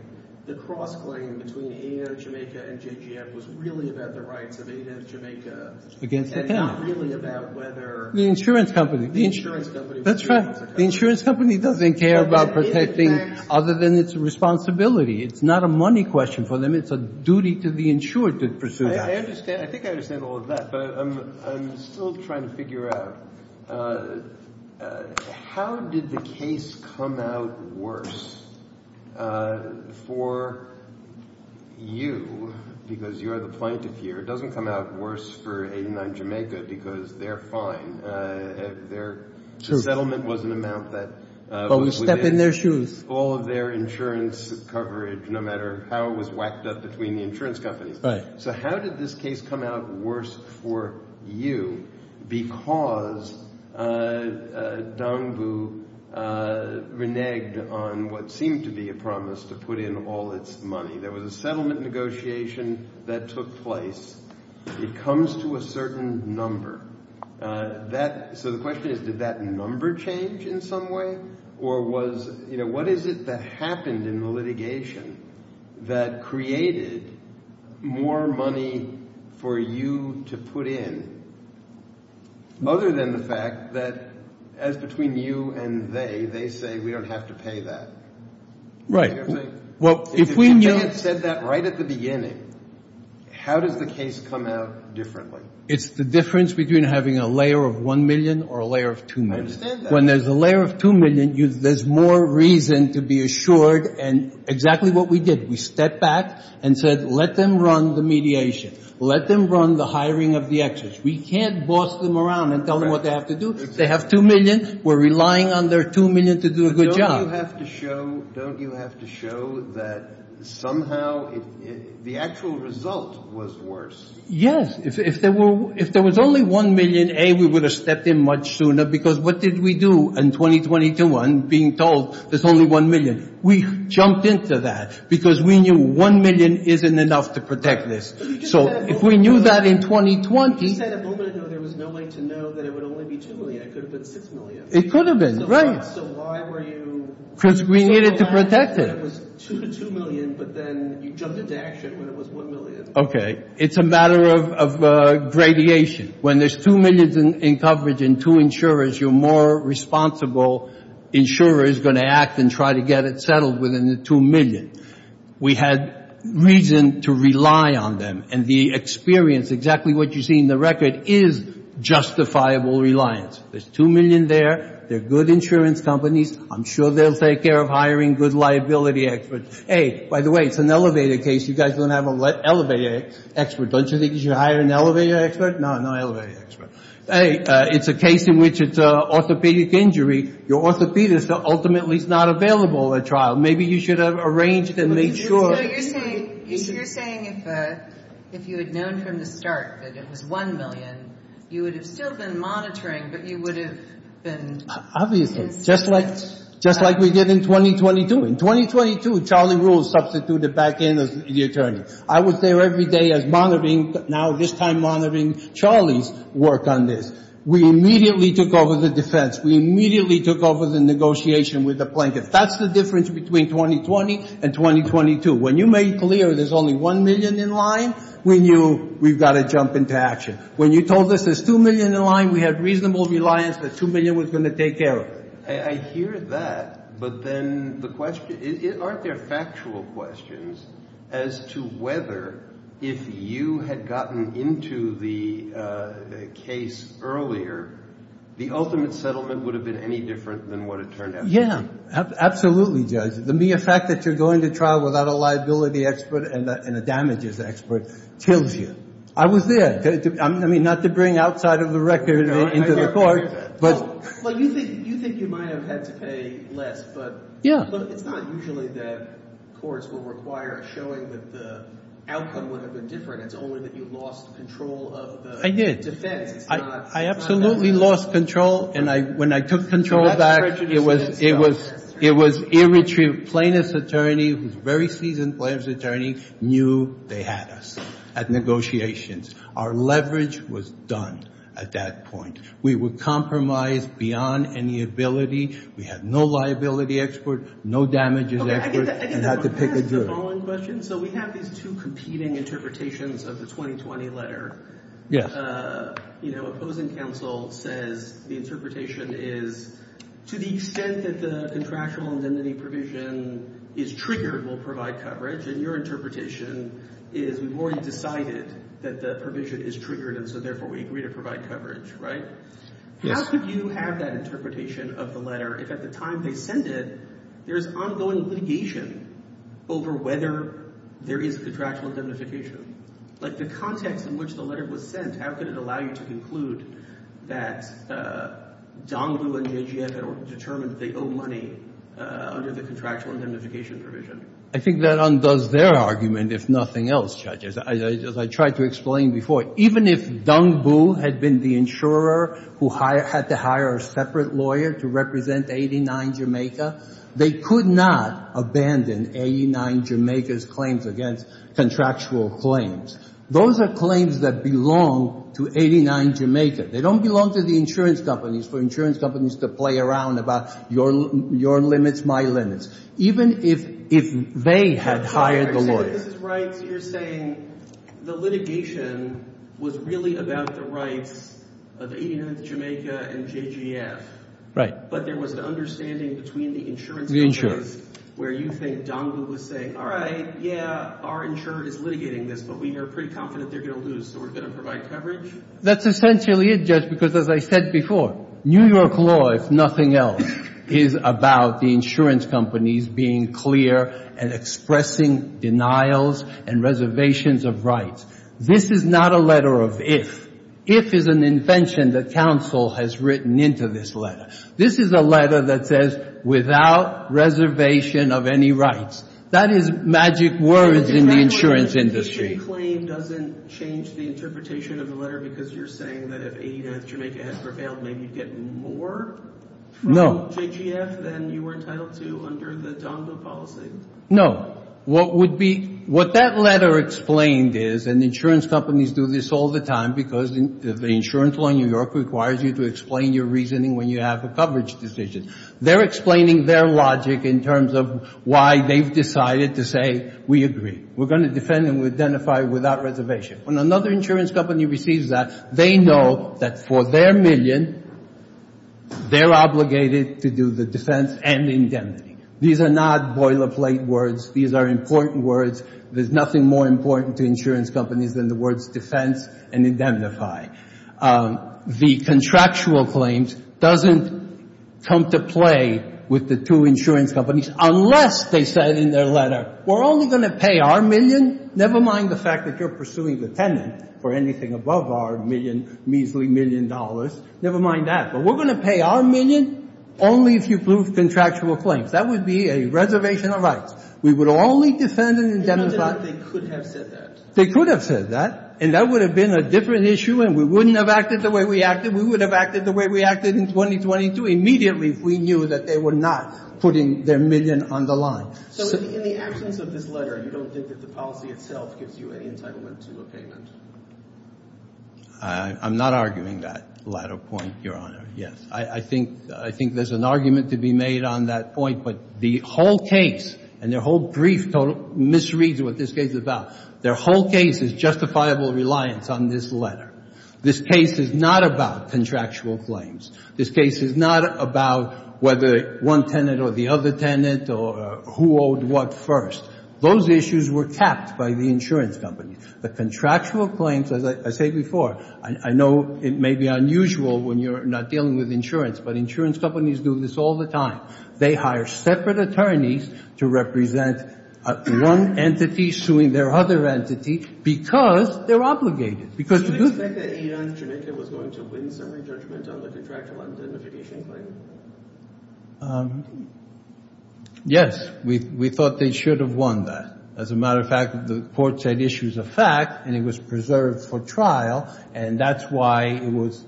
the cross claim between 89 Jamaica and JGM was really about the rights of 89 Jamaica. Against the county. And not really about whether. The insurance company. The insurance company. That's right. The insurance company doesn't care about protecting other than its responsibility. It's not a money question for them. It's a duty to the insured to pursue that. I understand. I think I understand all of that. But I'm still trying to figure out how did the case come out worse for you because you are the plaintiff here. It doesn't come out worse for 89 Jamaica because they're fine. Their settlement was an amount that. But we step in their shoes. All of their insurance coverage, no matter how it was whacked up between the insurance companies. So how did this case come out worse for you? Because Dongbu reneged on what seemed to be a promise to put in all its money. There was a settlement negotiation that took place. It comes to a certain number that. So the question is, did that number change in some way? Or was you know, what is it that happened in the litigation that created more money for you to put in? Other than the fact that as between you and they, they say we don't have to pay that. Right. Well, if we had said that right at the beginning. How does the case come out differently? It's the difference between having a layer of 1 million or a layer of 2 million. I understand that. When there's a layer of 2 million, there's more reason to be assured. And exactly what we did. We stepped back and said let them run the mediation. Let them run the hiring of the experts. We can't boss them around and tell them what they have to do. They have 2 million. We're relying on their 2 million to do a good job. Don't you have to show that somehow the actual result was worse? If there was only 1 million, A, we would have stepped in much sooner. Because what did we do in 2021 being told there's only 1 million? We jumped into that. Because we knew 1 million isn't enough to protect this. So if we knew that in 2020. You said a moment ago there was no way to know that it would only be 2 million. It could have been 6 million. It could have been. Because we needed to protect it. Okay. It's a matter of gradiation. When there's 2 million in coverage and 2 insurers, you're more responsible insurer is going to act and try to get it settled within the 2 million. We had reason to rely on them. And the experience, exactly what you see in the record, is justifiable reliance. There's 2 million there. They're good insurance companies. I'm sure they'll take care of hiring good liability experts. A, by the way, it's an elevator case. You guys don't have an elevator expert. Don't you think you should hire an elevator expert? No, no elevator expert. A, it's a case in which it's an orthopedic injury. Your orthopedist ultimately is not available at trial. Maybe you should have arranged and made sure. You're saying if you had known from the start that it was 1 million, you would have still been monitoring, but you would have been. Obviously. Just like we did in 2022. In 2022, Charlie Ruhl substituted back in as the attorney. I was there every day as monitoring, now this time monitoring Charlie's work on this. We immediately took over the defense. We immediately took over the negotiation with the plaintiff. That's the difference between 2020 and 2022. When you made clear there's only 1 million in line, we knew we've got to jump into action. When you told us there's 2 million in line, we had reasonable reliance that 2 million was going to take care of it. I hear that, but then the question, aren't there factual questions as to whether if you had gotten into the case earlier, the ultimate settlement would have been any different than what it turned out to be? Yeah, absolutely, Judge. The mere fact that you're going to trial without a liability expert and a damages expert kills you. I was there. I mean, not to bring outside of the record into the court. Well, you think you might have had to pay less, but it's not usually that courts will require showing that the outcome would have been different. It's only that you lost control of the defense. I did. I absolutely lost control, and when I took control back, it was ear-retrieved. Every plaintiff's attorney, who's a very seasoned plaintiff's attorney, knew they had us at negotiations. Our leverage was done at that point. We were compromised beyond any ability. We had no liability expert, no damages expert, and had to pick a jury. I guess I'm going to ask the following question. So we have these two competing interpretations of the 2020 letter. Yes. The opposing counsel says the interpretation is to the extent that the contractual indemnity provision is triggered will provide coverage, and your interpretation is we've already decided that the provision is triggered, and so therefore we agree to provide coverage, right? Yes. How could you have that interpretation of the letter if at the time they sent it, there's ongoing litigation over whether there is contractual indemnification? Like the context in which the letter was sent, how could it allow you to conclude that Dongbu and Yejia had determined they owe money under the contractual indemnification provision? I think that undoes their argument, if nothing else, Judge, as I tried to explain before. Even if Dongbu had been the insurer who had to hire a separate lawyer to represent 89 Jamaica, they could not abandon 89 Jamaica's claims against contractual claims. Those are claims that belong to 89 Jamaica. They don't belong to the insurance companies for insurance companies to play around about your limits, my limits. Even if they had hired the lawyer. Justice Breyer, you're saying the litigation was really about the rights of 89 Jamaica and JGF. Right. But there was an understanding between the insurance companies where you think Dongbu was saying, all right, yeah, our insurer is litigating this, but we are pretty confident they're going to lose, so we're going to provide coverage? That's essentially it, Judge, because as I said before, New York law, if nothing else, is about the insurance companies being clear and expressing denials and reservations of rights. This is not a letter of if. If is an invention that counsel has written into this letter. This is a letter that says without reservation of any rights. That is magic words in the insurance industry. So the JGF claim doesn't change the interpretation of the letter because you're saying that if 89 Jamaica had prevailed, maybe you'd get more from JGF than you were entitled to under the Dongbu policy? No. What that letter explained is, and insurance companies do this all the time because the insurance law in New York requires you to explain your reasoning when you have a coverage decision. They're explaining their logic in terms of why they've decided to say we agree. We're going to defend and identify without reservation. When another insurance company receives that, they know that for their million, they're obligated to do the defense and indemnity. These are not boilerplate words. These are important words. There's nothing more important to insurance companies than the words defense and indemnify. The contractual claims doesn't come to play with the two insurance companies unless they said in their letter, we're only going to pay our million, never mind the fact that you're pursuing the tenant for anything above our million, measly million dollars. Never mind that. But we're going to pay our million only if you prove contractual claims. That would be a reservation of rights. We would only defend and indemnify. They could have said that. They could have said that. And that would have been a different issue and we wouldn't have acted the way we acted. We would have acted the way we acted in 2022 immediately if we knew that they were not putting their million on the line. So in the absence of this letter, you don't think that the policy itself gives you any entitlement to a payment? I'm not arguing that latter point, Your Honor. Yes. I think there's an argument to be made on that point. But the whole case and their whole brief misreads what this case is about. Their whole case is justifiable reliance on this letter. This case is not about contractual claims. This case is not about whether one tenant or the other tenant or who owed what first. Those issues were kept by the insurance company. The contractual claims, as I say before, I know it may be unusual when you're not dealing with insurance, but insurance companies do this all the time. They hire separate attorneys to represent one entity suing their other entity because they're obligated. Do you expect that Enon Jamaica was going to win summary judgment on the contractual identification claim? Yes. We thought they should have won that. As a matter of fact, the court said issue is a fact and it was preserved for trial. And that's why it was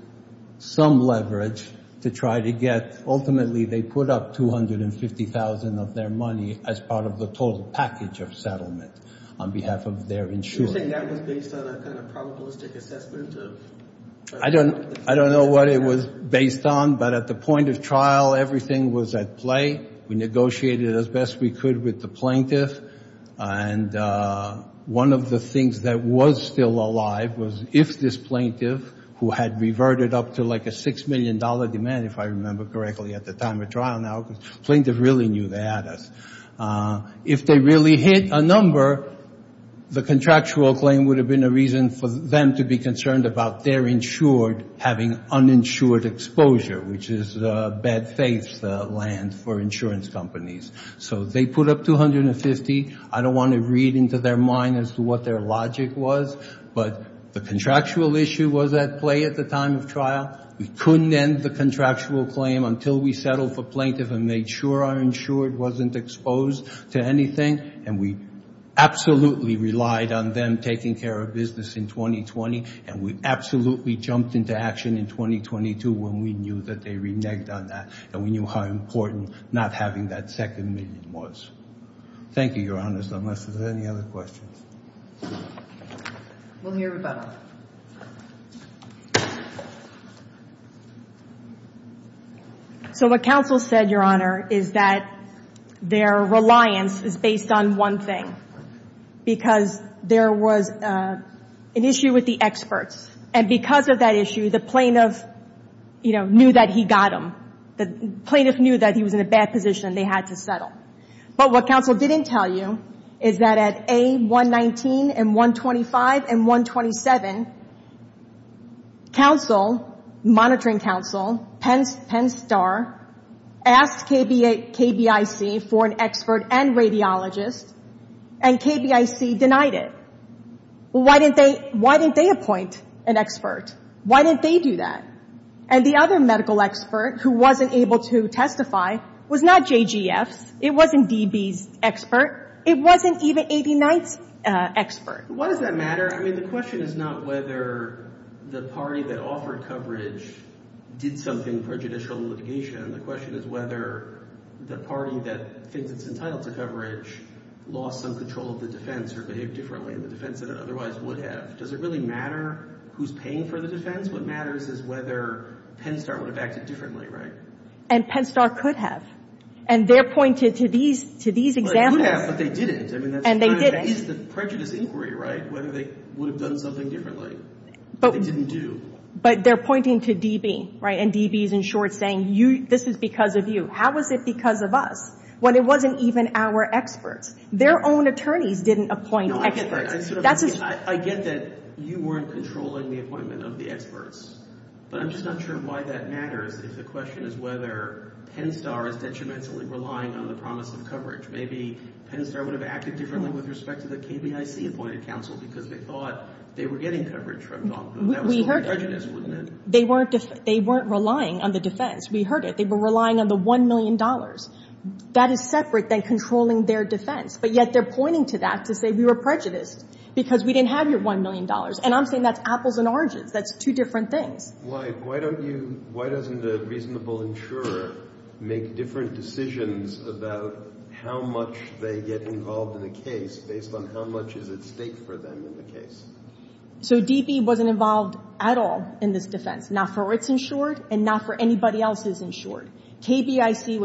some leverage to try to get ultimately they put up $250,000 of their money as part of the total package of settlement on behalf of their insurance. You're saying that was based on a kind of probabilistic assessment? I don't know what it was based on, but at the point of trial, everything was at play. We negotiated as best we could with the plaintiff. And one of the things that was still alive was if this plaintiff, who had reverted up to like a $6 million demand, if I remember correctly at the time of trial now, because the plaintiff really knew they had us. If they really hit a number, the contractual claim would have been a reason for them to be concerned about their insured having uninsured exposure, which is bad faith land for insurance companies. So they put up $250,000. I don't want to read into their mind as to what their logic was, but the contractual issue was at play at the time of trial. We couldn't end the contractual claim until we settled for plaintiff and made sure our insured wasn't exposed to anything. And we absolutely relied on them taking care of business in 2020, and we absolutely jumped into action in 2022 when we knew that they reneged on that and we knew how important not having that second million was. Thank you, Your Honor, unless there's any other questions. We'll hear about it. So what counsel said, Your Honor, is that their reliance is based on one thing, because there was an issue with the experts. And because of that issue, the plaintiff knew that he got them, the plaintiff knew that he was in a bad position and they had to settle. But what counsel didn't tell you is that at A119 and 125 and 127, monitoring counsel, Penn Star, asked KBIC for an expert and radiologist, and KBIC denied it. Why didn't they appoint an expert? Why didn't they do that? And the other medical expert who wasn't able to testify was not JGF's. It wasn't DB's expert. It wasn't even 89's expert. Why does that matter? I mean, the question is not whether the party that offered coverage did something for judicial litigation. The question is whether the party that thinks it's entitled to coverage lost some control of the defense or behaved differently in the defense than it otherwise would have. Does it really matter who's paying for the defense? What matters is whether Penn Star would have acted differently, right? And Penn Star could have. And they're pointed to these examples. But they didn't. And they didn't. That is the prejudice inquiry, right, whether they would have done something differently. But they didn't do. But they're pointing to DB, right, and DB is, in short, saying this is because of you. How is it because of us when it wasn't even our experts? Their own attorneys didn't appoint experts. I get that you weren't controlling the appointment of the experts. But I'm just not sure why that matters if the question is whether Penn Star is detrimentally relying on the promise of coverage. Maybe Penn Star would have acted differently with respect to the KBIC appointed counsel because they thought they were getting coverage from Donald Trump. That was prejudice, wasn't it? They weren't relying on the defense. We heard it. They were relying on the $1 million. That is separate than controlling their defense. But yet they're pointing to that to say we were prejudiced because we didn't have your $1 million. And I'm saying that's apples and oranges. That's two different things. Why don't you, why doesn't a reasonable insurer make different decisions about how much they get involved in a case based on how much is at stake for them in the case? So DB wasn't involved at all in this defense, not for its insured and not for anybody else's insured. KBIC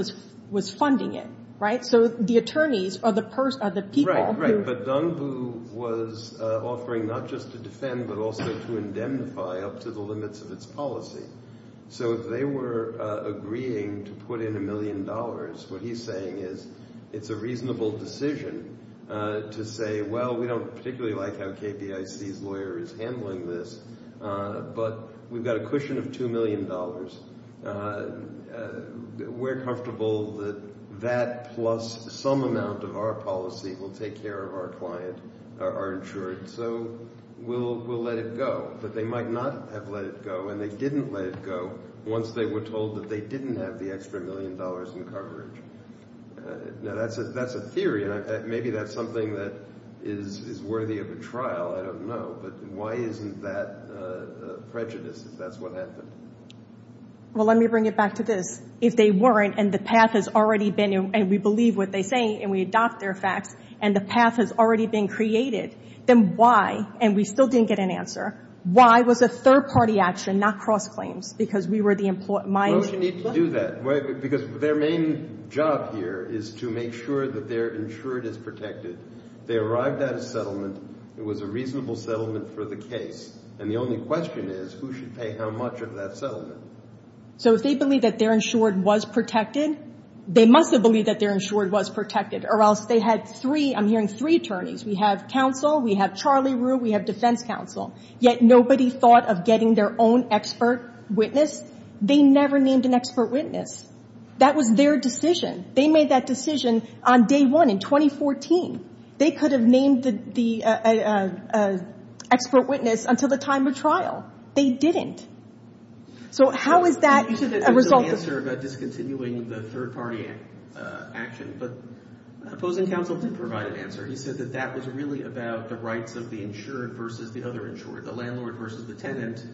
was funding it, right? So the attorneys are the people. Right, right. But Dong Bu was offering not just to defend but also to indemnify up to the limits of its policy. So if they were agreeing to put in $1 million, what he's saying is it's a reasonable decision to say, well, we don't particularly like how KBIC's lawyer is handling this, but we've got a cushion of $2 million. We're comfortable that that plus some amount of our policy will take care of our client, our insured. So we'll let it go. But they might not have let it go, and they didn't let it go once they were told that they didn't have the extra $1 million in coverage. Now that's a theory, and maybe that's something that is worthy of a trial. I don't know. But why isn't that prejudice if that's what happened? Well, let me bring it back to this. If they weren't, and the path has already been, and we believe what they say, and we adopt their facts, and the path has already been created, then why, and we still didn't get an answer, why was a third-party action, not cross-claims, because we were the mind? Why would you need to do that? Because their main job here is to make sure that their insured is protected. They arrived at a settlement. It was a reasonable settlement for the case, and the only question is, who should pay how much of that settlement? So if they believe that their insured was protected, they must have believed that their insured was protected, or else they had three, I'm hearing, three attorneys. We have counsel, we have Charlie Rue, we have defense counsel. Yet nobody thought of getting their own expert witness. They never named an expert witness. That was their decision. They made that decision on day one in 2014. They could have named the expert witness until the time of trial. They didn't. So how is that a result of this? You said that there was no answer about discontinuing the third-party action, but opposing counsel did provide an answer. He said that that was really about the rights of the insured versus the other insured, the landlord versus the tenant,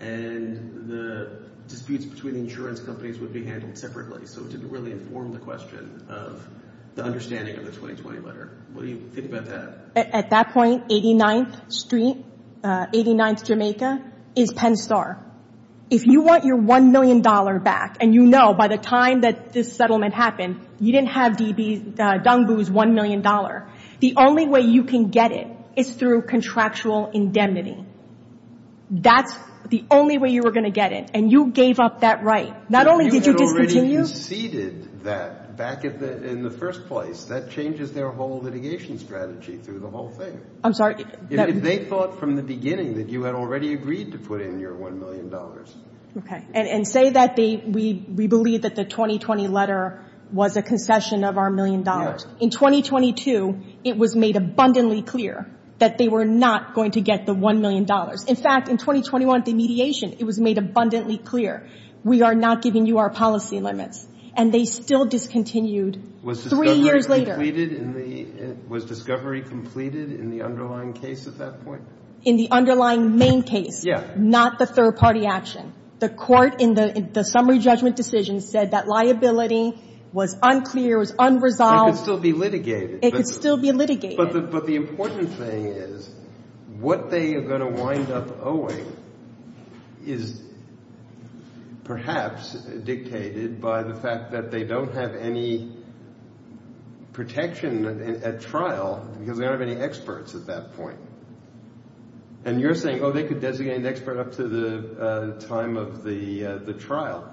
and the disputes between insurance companies would be handled separately. So it didn't really inform the question of the understanding of the 2020 letter. What do you think about that? At that point, 89th Street, 89th Jamaica, is Penn Star. If you want your $1 million back, and you know by the time that this settlement happened, you didn't have Dungboo's $1 million, the only way you can get it is through contractual indemnity. That's the only way you were going to get it, and you gave up that right. Not only did you discontinue. You had already conceded that back in the first place. That changes their whole litigation strategy through the whole thing. I'm sorry. If they thought from the beginning that you had already agreed to put in your $1 million. Okay. And say that we believe that the 2020 letter was a concession of our $1 million. Yes. In 2022, it was made abundantly clear that they were not going to get the $1 million. In fact, in 2021 at the mediation, it was made abundantly clear. We are not giving you our policy limits. And they still discontinued three years later. Was discovery completed in the underlying case at that point? In the underlying main case. Yes. Not the third-party action. The Court in the summary judgment decision said that liability was unclear, was unresolved. It could still be litigated. It could still be litigated. But the important thing is what they are going to wind up owing is perhaps dictated by the fact that they don't have any protection at trial because they don't have any experts at that point. And you're saying, oh, they could designate an expert up to the time of the trial.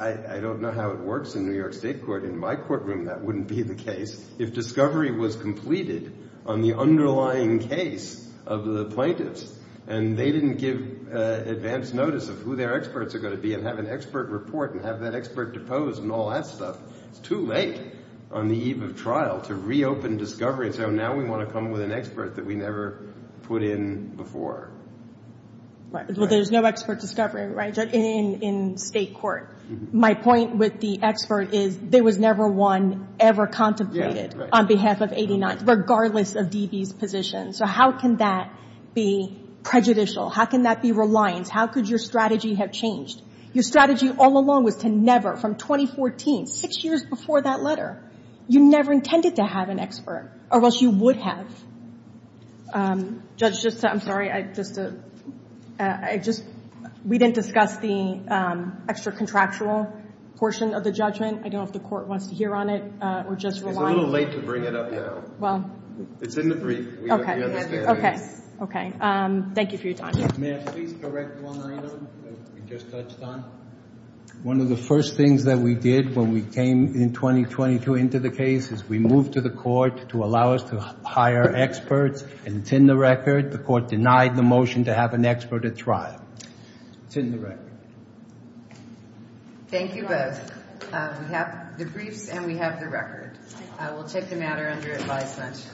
I don't know how it works in New York State court. In my courtroom, that wouldn't be the case. If discovery was completed on the underlying case of the plaintiffs and they didn't give advance notice of who their experts are going to be and have an expert report and have that expert deposed and all that stuff, it's too late on the eve of trial to reopen discovery. So now we want to come with an expert that we never put in before. Well, there's no expert discovery, right, in State court. My point with the expert is there was never one ever contemplated on behalf of 89th, regardless of DB's position. So how can that be prejudicial? How can that be reliance? How could your strategy have changed? Your strategy all along was to never, from 2014, six years before that letter, you never intended to have an expert or else you would have. Judge, I'm sorry. We didn't discuss the extra contractual portion of the judgment. I don't know if the court wants to hear on it or just rely on it. It's a little late to bring it up now. It's in the brief. We understand. Okay. Thank you for your time. May I please correct one item you just touched on? One of the first things that we did when we came in 2022 into the case is we moved to the court to allow us to hire experts, and it's in the record. The court denied the motion to have an expert at trial. It's in the record. Thank you both. We have the briefs and we have the record. I will take the matter under advisement.